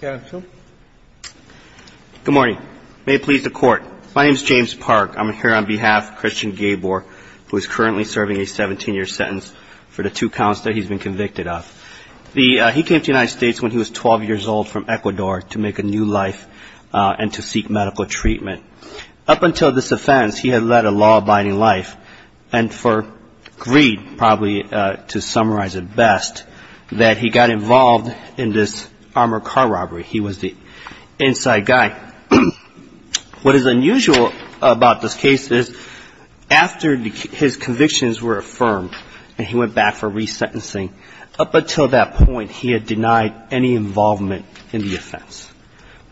Good morning. May it please the court. My name is James Park. I'm here on behalf of Christian Gaybor, who is currently serving a 17-year sentence for the two counts that he's been convicted of. He came to the United States when he was 12 years old from Ecuador to make a new life and to seek medical treatment. Up until this offense, he had led a law-abiding life and for greed, probably to summarize it best, that he got involved in this armored car robbery. He was the inside guy. What is unusual about this case is after his convictions were affirmed and he went back for resentencing, up until that point he had denied any involvement in the offense.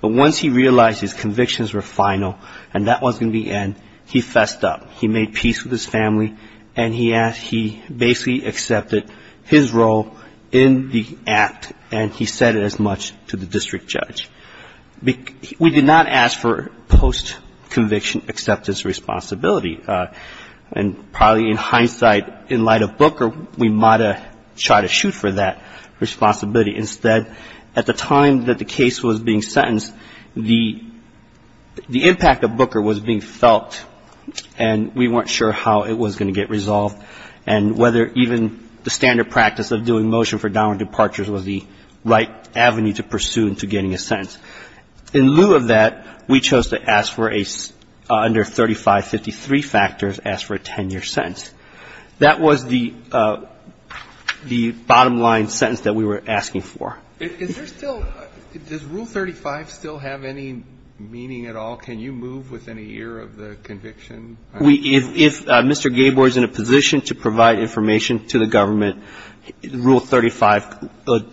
But once he realized his convictions were final and that wasn't the end, he fessed up. He made peace with his family and he asked he basically accepted his role in the act and he said it as much to the district judge. We did not ask for post-conviction acceptance responsibility. And probably in hindsight, in light of Booker, we might have tried to shoot for that responsibility. Instead, at the time that the case was being sentenced, the impact of Booker was being felt and we weren't sure how it was going to get resolved and whether even the standard practice of doing motion for downward departures was the right avenue to pursue into getting a sentence. In lieu of that, we chose to ask for a, under 3553 factors, ask for a 10-year sentence. That was the bottom line sentence that we were asking for. Is there still, does Rule 35 still have any meaning at all? Can you move within a year of the conviction? If Mr. Gabor is in a position to provide information to the government, Rule 35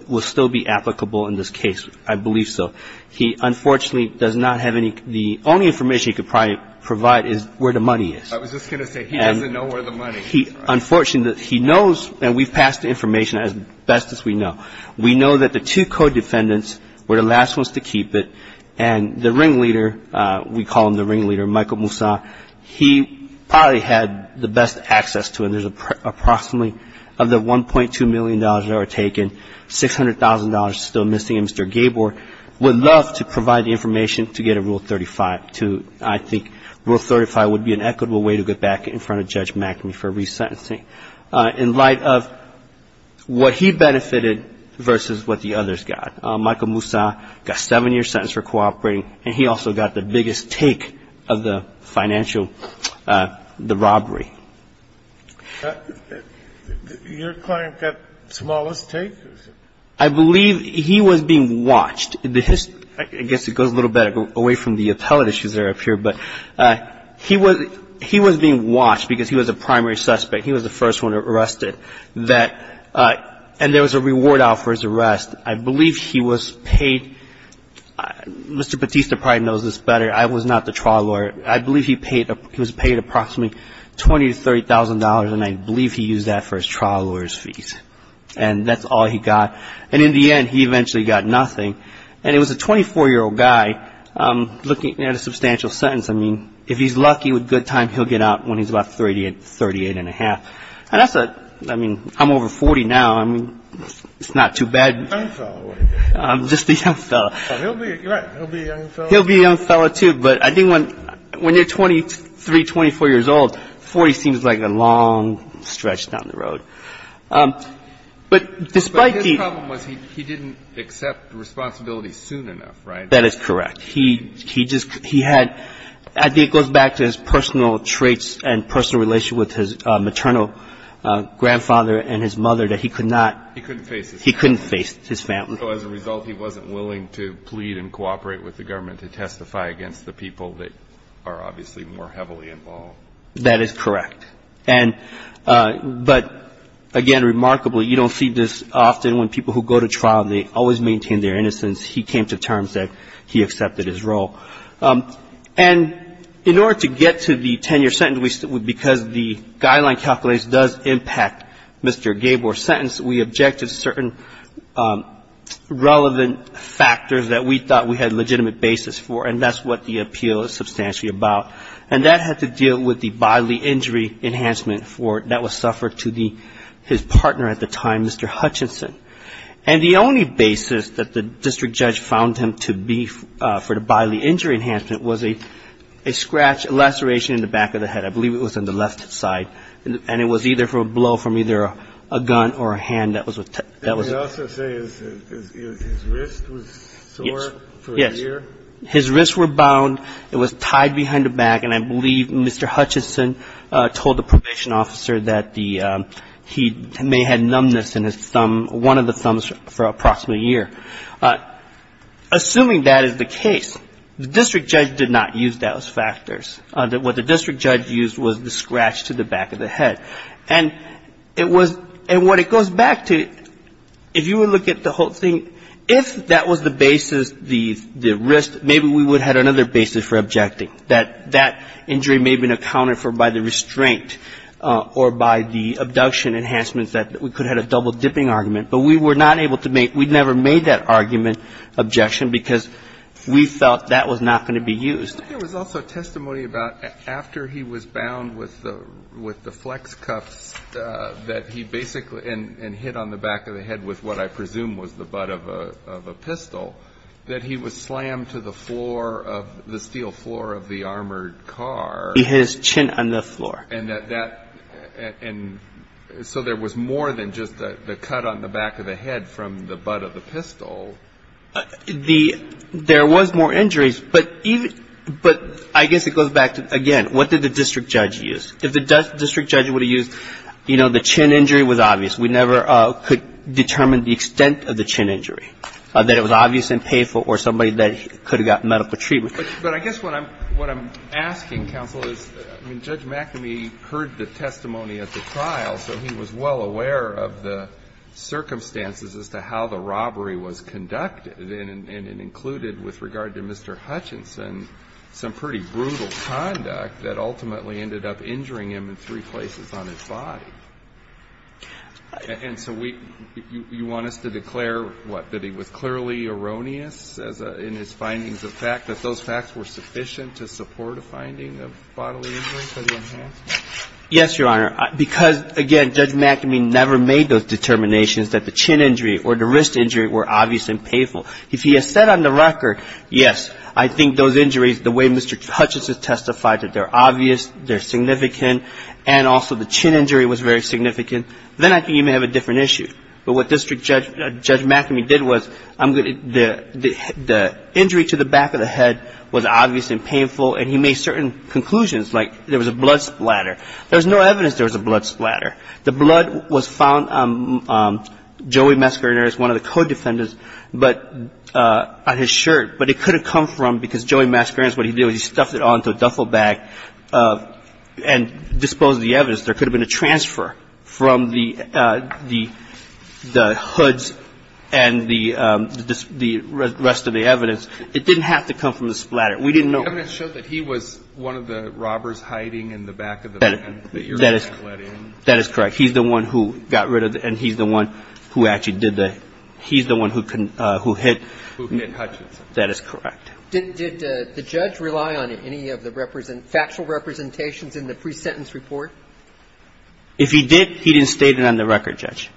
will still be applicable in this case. I believe so. He, unfortunately, does not have any the only information he could provide is where the money is. I was just going to say, he doesn't know where the money is. Unfortunately, he knows, and we've passed the information as best as we know. We know that the two co-defendants were the last ones to keep it, and the ringleader, we call him the ringleader, Michael Moussa, he probably had the best access to it. There's approximately of the $1.2 million that were taken, $600,000 still missing, and Mr. Gabor would love to provide the information to get a Rule 35. I think Rule 35 would be an equitable way to get back in front of Judge McAmey for resentencing. In light of what he benefited versus what the others got. Michael Moussa got a seven-year sentence for cooperating, and he also got the biggest take of the financial, the robbery. Your client got the smallest take? I believe he was being watched. I guess it goes a little bit away from the appellate issues that are up here, but he was being watched because he was a primary suspect. He was the first one arrested, and there was a reward out for his arrest. I believe he was paid, Mr. Batista probably knows this better, I was not the trial lawyer, I believe he was paid approximately $20,000 to $30,000, and I believe he used that for his trial lawyer's fees, and that's all he got. And in the end, he eventually got nothing, and it was a 24-year-old guy looking at a substantial sentence. I mean, if he's lucky with good time, he'll get out when he's about 38, 38 and a half. And that's a, I mean, I'm over 40 now, I mean, it's not too bad. Young fellow. Just a young fellow. He'll be a young fellow. He'll be a young fellow too, but I think when you're 23, 24 years old, 40 seems like a long stretch down the road. But despite the But his problem was he didn't accept responsibility soon enough, right? That is correct. He just, he had, I think it goes back to his personal traits and personal relation with his maternal grandfather and his mother that he could not He couldn't face his family. He couldn't face his family. So as a result, he wasn't willing to plead and cooperate with the government to testify against the people that are obviously more heavily involved. That is correct. And, but again, remarkably, you don't see this often when people who go to trial, they always maintain their innocence. He came to terms that he accepted his role. And in order to get to the 10-year sentence, because the guideline calculates does impact Mr. Gabor's sentence, we objected to certain relevant factors that we thought we had legitimate basis for, and that's what the appeal is substantially about. And that had to deal with the bodily injury enhancement for, that was suffered to the, his partner at the time, Mr. Hutchinson. And the only basis that the district judge found him to be for the bodily injury enhancement was a scratch, a laceration in the back of the head. I believe it was on the left side. And it was either for a blow from either a gun or a hand. That was what that was. We also say his wrist was sore for a year. His wrists were bound. It was tied behind the back. And I believe Mr. Hutchinson told the probation officer that the, he may had numbness in his thumb, one of the thumbs for approximately a year. Assuming that is the case, the district judge did not use those factors. What the district judge used was the scratch to the back of the head. And it was, and what it goes back to, if you would look at the whole thing, if that was the basis, the wrist, maybe we would have had another basis for objecting. That that injury may have been accounted for by the restraint or by the abduction enhancements that we could have had a double dipping argument. But we were not able to make, we never made that argument, objection, because we felt that was not going to be used. But there was also testimony about after he was bound with the flex cups that he basically, and hit on the back of the head with what I presume was the butt of a pistol, that he was slammed to the floor of the steel floor of the armored car. His chin on the floor. And that, and so there was more than just the cut on the back of the head from the butt of the pistol. The, there was more injuries, but even, but I guess it goes back to, again, what did the district judge use? If the district judge would have used, you know, the chin injury was obvious. We never could determine the extent of the chin injury. That it was obvious and painful or somebody that could have gotten medical treatment. But I guess what I'm, what I'm asking, counsel, is, I mean, Judge McNamee heard the testimony at the trial, so he was well aware of the circumstances as to how the robbery was conducted, and it included, with regard to Mr. Hutchinson, some pretty brutal conduct that ultimately ended up injuring him in three places on his body. And so we, you want us to declare, what, that he was clearly erroneous as a, in his findings of fact, that those facts were sufficient to support a finding of bodily injury for the enhancements? Yes, Your Honor, because, again, Judge McNamee never made those determinations that the chin injury or the wrist injury were obvious and painful. If he has said on the record, yes, I think those injuries, the way Mr. Hutchinson testified, that they're obvious, they're significant, and also the chin injury was very significant, then I can even have a different issue. But what District Judge McNamee did was, I'm going to, the injury to the back of the head was obvious and painful, and he made certain conclusions, like there was a blood splatter. There was no evidence there was a blood splatter. The blood was found on Joey Mascariner's, one of the co-defendants, but, on his shirt, but it couldn't come from, because Joey Mascariner's, what he did was he stuffed it all into a duffel bag and disposed of the evidence. There could have been a transfer from the hoods and the rest of the evidence. It didn't have to come from the splatter. We didn't know. The evidence showed that he was one of the robbers hiding in the back of the van that your client let in. That is correct. He's the one who got rid of it, and he's the one who actually did the, he's the one who hit. Who hit Hutchinson. That is correct. Did the judge rely on any of the factual representations in the pre-sentence report? If he did, he didn't state it on the record, Judge.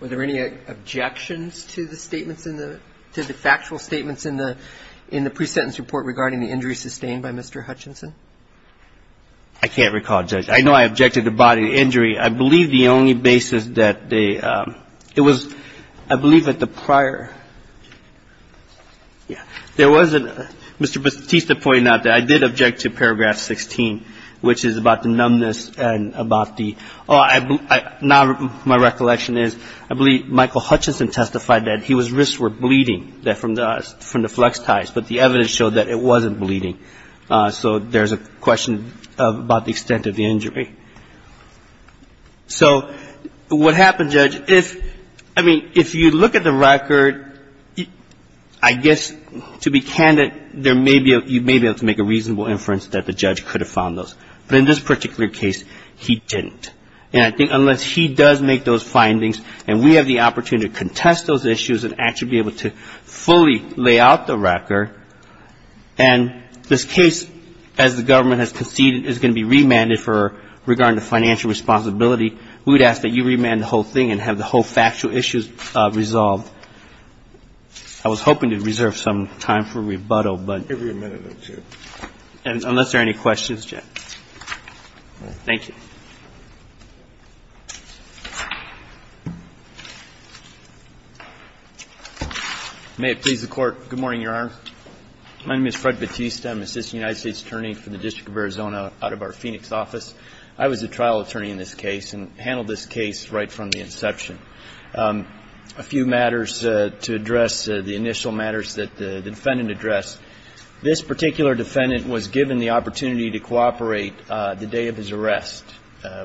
Were there any objections to the statements in the, to the factual statements in the, in the pre-sentence report regarding the injury sustained by Mr. Hutchinson? I can't recall, Judge. I know I objected to body injury. I believe the only basis that they, it was, I believe that the prior, yeah, there wasn't, Mr. Batista pointed out that I did object to paragraph 16, which is about the numbness and about the, oh, I, now my recollection is I believe Michael Hutchinson testified that his wrists were bleeding from the flex ties, but the evidence showed that it wasn't bleeding. So there's a question about the extent of the injury. So what happened, Judge, if, I mean, if you look at the record, I guess to be candid, there may be, you may be able to make a reasonable inference that the judge could have found those. But in this particular case, he didn't. And I think unless he does make those findings and we have the opportunity to contest those issues and actually be able to fully lay out the record, and this case, as the government has conceded, is going to be remanded for, regarding the financial responsibility, we would ask that you remand the whole thing and have the whole factual issue resolved. I was hoping to reserve some time for rebuttal, but unless there are any questions, I'm going to close the hearing. Thank you. May it please the Court. Good morning, Your Honor. My name is Fred Batista. I'm an assistant United States attorney for the District of Arizona out of our Phoenix office. I was a trial attorney in this case and handled this case right from the inception. A few matters to address, the initial matters that the defendant addressed. This particular defendant was given the opportunity to cooperate the day of his arrest.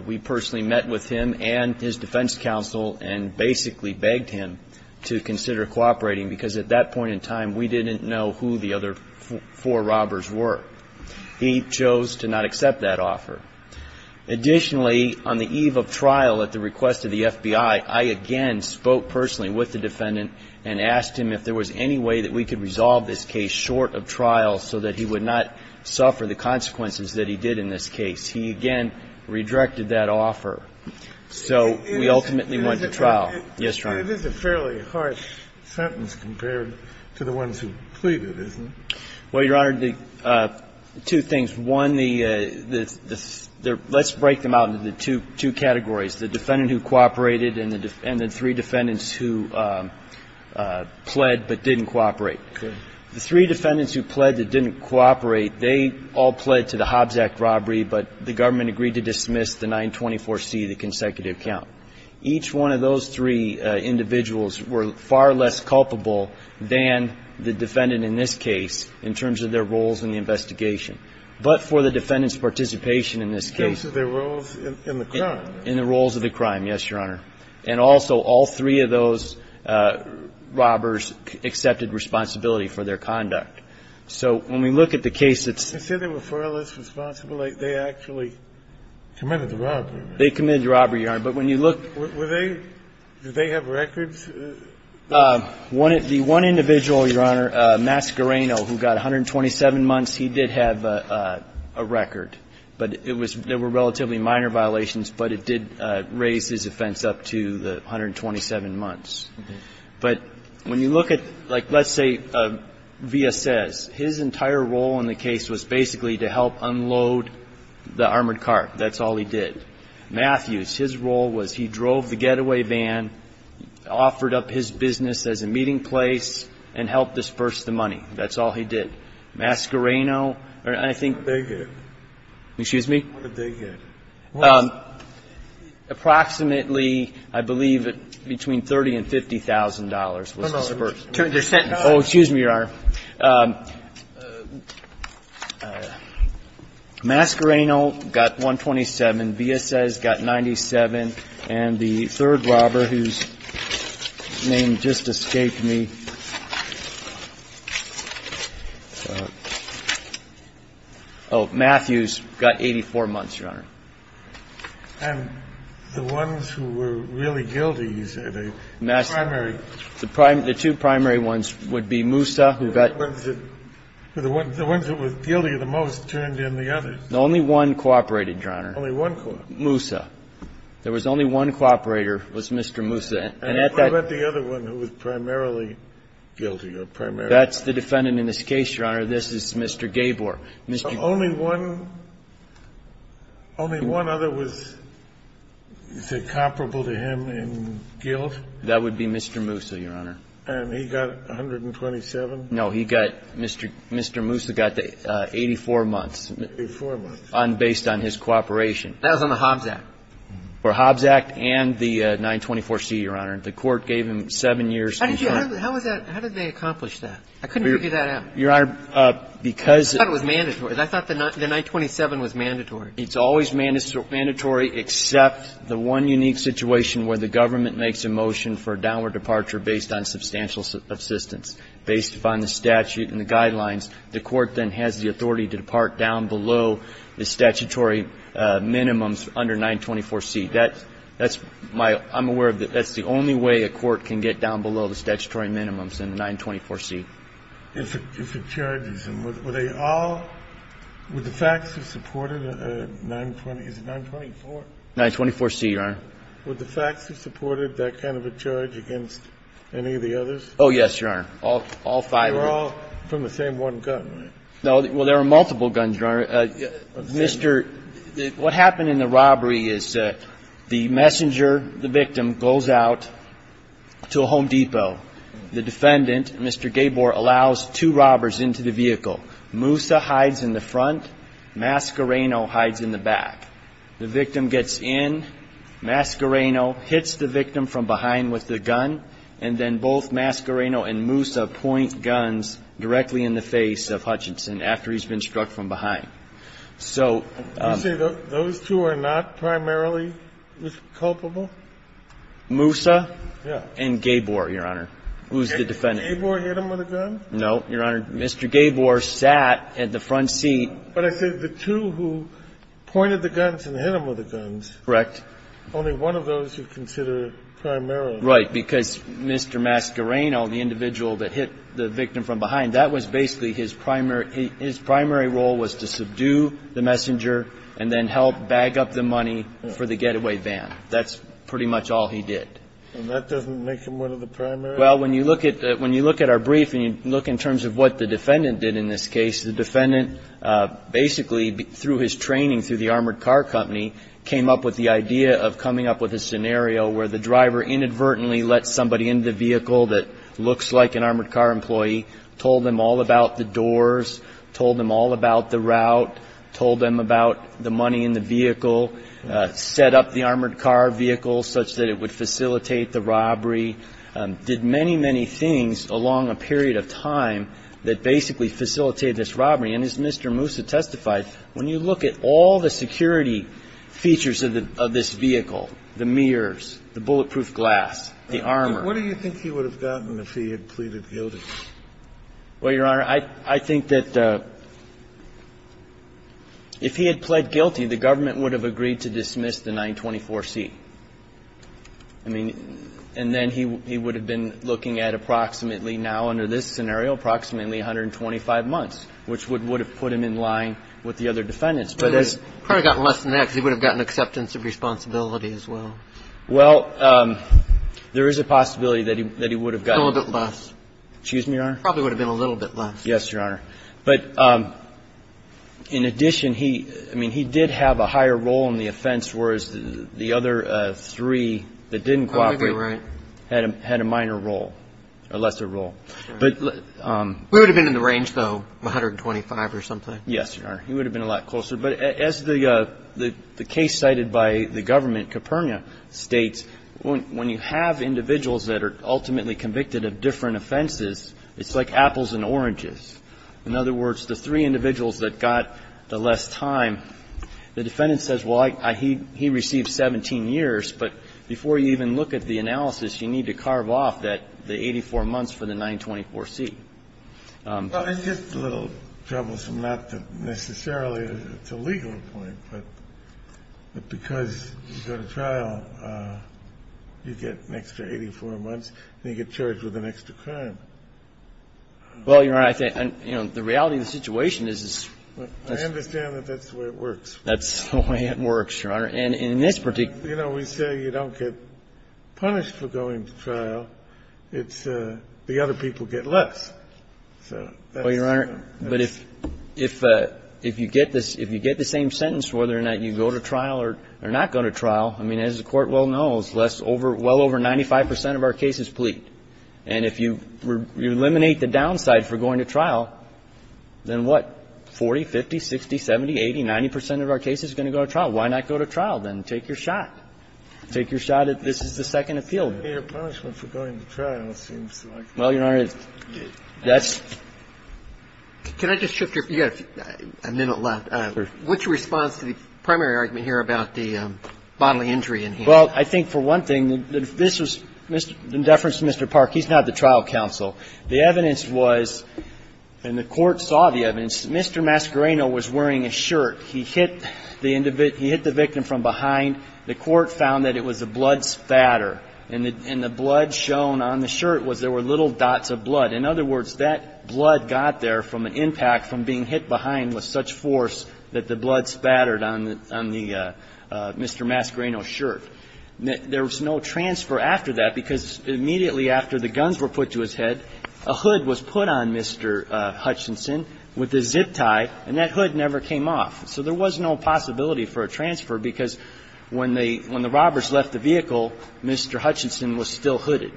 We personally met with him and his defense counsel and basically begged him to consider cooperating because at that point in time, we didn't know who the other four robbers were. He chose to not accept that offer. Additionally, on the eve of trial, at the request of the FBI, I again spoke personally with the defendant and asked him if there was any way that we could resolve this case short of trial so that he would not suffer the consequences that he did in this case. He again redirected that offer. So we ultimately went to trial. Yes, Your Honor. It is a fairly harsh sentence compared to the ones who pleaded, isn't it? Well, Your Honor, two things. One, let's break them out into the two categories, the defendant who cooperated and the three defendants who pled but didn't cooperate. The three defendants who pled but didn't cooperate, they all pled to the Hobbs Act robbery, but the government agreed to dismiss the 924C, the consecutive count. Each one of those three individuals were far less culpable than the defendant in this case in terms of their roles in the investigation. But for the defendant's participation in this case. In terms of their roles in the crime. In the roles of the crime, yes, Your Honor. And also, all three of those robbers accepted responsibility for their conduct. So when we look at the case that's. They said they were far less responsible. They actually committed the robbery. They committed the robbery, Your Honor. But when you look. Were they? Did they have records? The one individual, Your Honor, Mascareno, who got 127 months, he did have a record. But it was, there were relatively minor violations, but it did raise his offense up to the 127 months. But when you look at, like, let's say Villasez, his entire role in the case was basically to help unload the armored car. That's all he did. Matthews, his role was he drove the getaway van, offered up his business as a meeting place, and helped disperse the money. That's all he did. Mascareno, I think. What did they get? Excuse me? What did they get? Approximately, I believe, between $30,000 and $50,000 was disbursed. Oh, excuse me, Your Honor. Mascareno got 127. Villasez got 97. And the third robber, whose name just escaped me. Oh, Matthews got 84 months, Your Honor. And the ones who were really guilty, you say, the primary? The two primary ones would be Moussa, who got. The ones who were guilty the most turned in the others. Only one cooperated, Your Honor. Only one cooperated. Moussa. There was only one cooperator was Mr. Moussa. And what about the other one who was primarily guilty? That's the defendant in this case, Your Honor. This is Mr. Gabor. Only one other was, you said, comparable to him in guilt? That would be Mr. Moussa, Your Honor. And he got 127? No, Mr. Moussa got 84 months. 84 months. Based on his cooperation. That was on the Hobbs Act. For Hobbs Act and the 924C, Your Honor. The Court gave him 7 years. How did they accomplish that? I couldn't figure that out. Your Honor, because. I thought it was mandatory. I thought the 927 was mandatory. It's always mandatory, except the one unique situation where the government makes a motion for a downward departure based on substantial assistance. Based upon the statute and the guidelines, the Court then has the authority to depart down below the statutory minimums under 924C. That's my, I'm aware of that. That's the only way a court can get down below the statutory minimums in the 924C. If it charges him, were they all, would the facts have supported a 920, is it 924? 924C, Your Honor. Would the facts have supported that kind of a charge against any of the others? Oh, yes, Your Honor. All five of them. They were all from the same one gun, right? No, well, there were multiple guns, Your Honor. Mr., what happened in the robbery is the messenger, the victim, goes out to a Home Depot. The defendant, Mr. Gabor, allows two robbers into the vehicle. Musa hides in the front. Mascareno hides in the back. The victim gets in. Mascareno hits the victim from behind with the gun. And then both Mascareno and Musa point guns directly in the face of Hutchinson after he's been struck from behind. So. You say those two are not primarily culpable? Musa and Gabor, Your Honor, who's the defendant. Did Gabor hit him with a gun? No, Your Honor. Mr. Gabor sat at the front seat. But I said the two who pointed the guns and hit him with the guns. Correct. Only one of those you consider primarily. Right. Because Mr. Mascareno, the individual that hit the victim from behind, that was basically his primary role was to subdue the messenger and then help bag up the money for the getaway van. That's pretty much all he did. And that doesn't make him one of the primary? Well, when you look at our brief and you look in terms of what the defendant did in this case, the defendant basically, through his training through the Armored Car Company, came up with the idea of coming up with a scenario where the driver inadvertently let somebody in the vehicle that looks like an armored car employee, told them all about the doors, told them all about the route, told them about the money in the vehicle, set up the armored car vehicle such that it would facilitate the robbery, did many, many things along a period of time that basically facilitated this robbery. And as Mr. Moussa testified, when you look at all the security features of this vehicle, the mirrors, the bulletproof glass, the armor. What do you think he would have gotten if he had pleaded guilty? Well, Your Honor, I think that if he had pled guilty, the government would have agreed to dismiss the 924C. I mean, and then he would have been looking at approximately now under this scenario, approximately 125 months, which would have put him in line with the other defendants. He probably would have gotten less than that because he would have gotten acceptance of responsibility as well. Well, there is a possibility that he would have gotten a little bit less. Excuse me, Your Honor? Probably would have been a little bit less. Yes, Your Honor. But in addition, I mean, he did have a higher role in the offense, whereas the other three that didn't cooperate had a minor role or lesser role. We would have been in the range, though, 125 or something. Yes, Your Honor. He would have been a lot closer. But as the case cited by the government, Caperna, states, when you have individuals that are ultimately convicted of different offenses, it's like apples and oranges. In other words, the three individuals that got the less time, the defendant says, well, he received 17 years. But before you even look at the analysis, you need to carve off the 84 months for the 924C. Well, it's just a little troublesome, not necessarily to a legal point, but because you go to trial, you get an extra 84 months, and you get charged with an extra crime. Well, Your Honor, I think the reality of the situation is this. I understand that that's the way it works. That's the way it works, Your Honor. And in this particular case, you know, we say you don't get punished for going to trial. It's the other people get less. Well, Your Honor, but if you get this, if you get the same sentence whether or not you go to trial or not go to trial, I mean, as the Court well knows, well over 95 percent of our cases plead. And if you eliminate the downside for going to trial, then what? 40, 50, 60, 70, 80, 90 percent of our cases are going to go to trial. Why not go to trial? Then take your shot. Take your shot at this is the second appeal. But you don't get a punishment for going to trial, it seems like. Well, Your Honor, that's the case. Can I just shift your view? You have a minute left. Sure. What's your response to the primary argument here about the bodily injury in him? Well, I think for one thing, this was in deference to Mr. Park. He's not the trial counsel. The evidence was, and the Court saw the evidence, Mr. Mascareno was wearing a shirt. He hit the victim from behind. The Court found that it was a blood spatter. And the blood shown on the shirt was there were little dots of blood. In other words, that blood got there from an impact from being hit behind with such force that the blood spattered on the Mr. Mascareno's shirt. There was no transfer after that because immediately after the guns were put to his head, a hood was put on Mr. Hutchinson with a zip tie, and that hood never came off. So there was no possibility for a transfer because when they – when the robbers left the vehicle, Mr. Hutchinson was still hooded.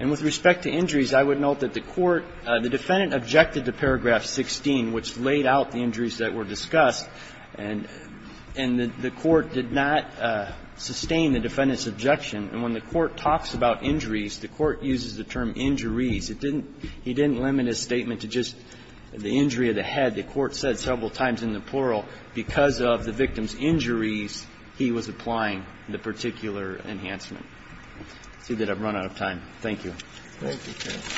And with respect to injuries, I would note that the Court – the defendant objected to paragraph 16, which laid out the injuries that were discussed. And the Court did not sustain the defendant's objection. And when the Court talks about injuries, the Court uses the term injuries. It didn't – he didn't limit his statement to just the injury of the head. The Court said several times in the plural, because of the victim's injuries, he was applying the particular enhancement. I see that I've run out of time. Thank you. Thank you, Judge.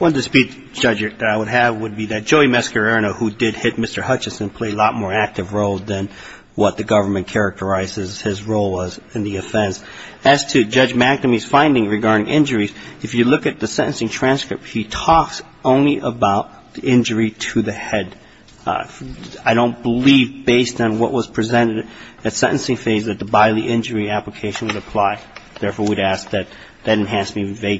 One dispute, Judge, that I would have would be that Joey Mascareno, who did hit Mr. Hutchinson, played a lot more active role than what the government characterizes his role was in the offense. As to Judge McNamee's finding regarding injuries, if you look at the sentencing transcript, he talks only about the injury to the head. I don't believe, based on what was presented at sentencing phase, that the Biley injury application would apply. Therefore, we'd ask that that enhancement be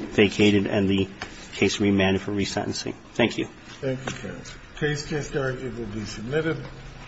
vacated and the case remanded for resentencing. Thank you. Thank you, Judge. Case can start. It will be submitted.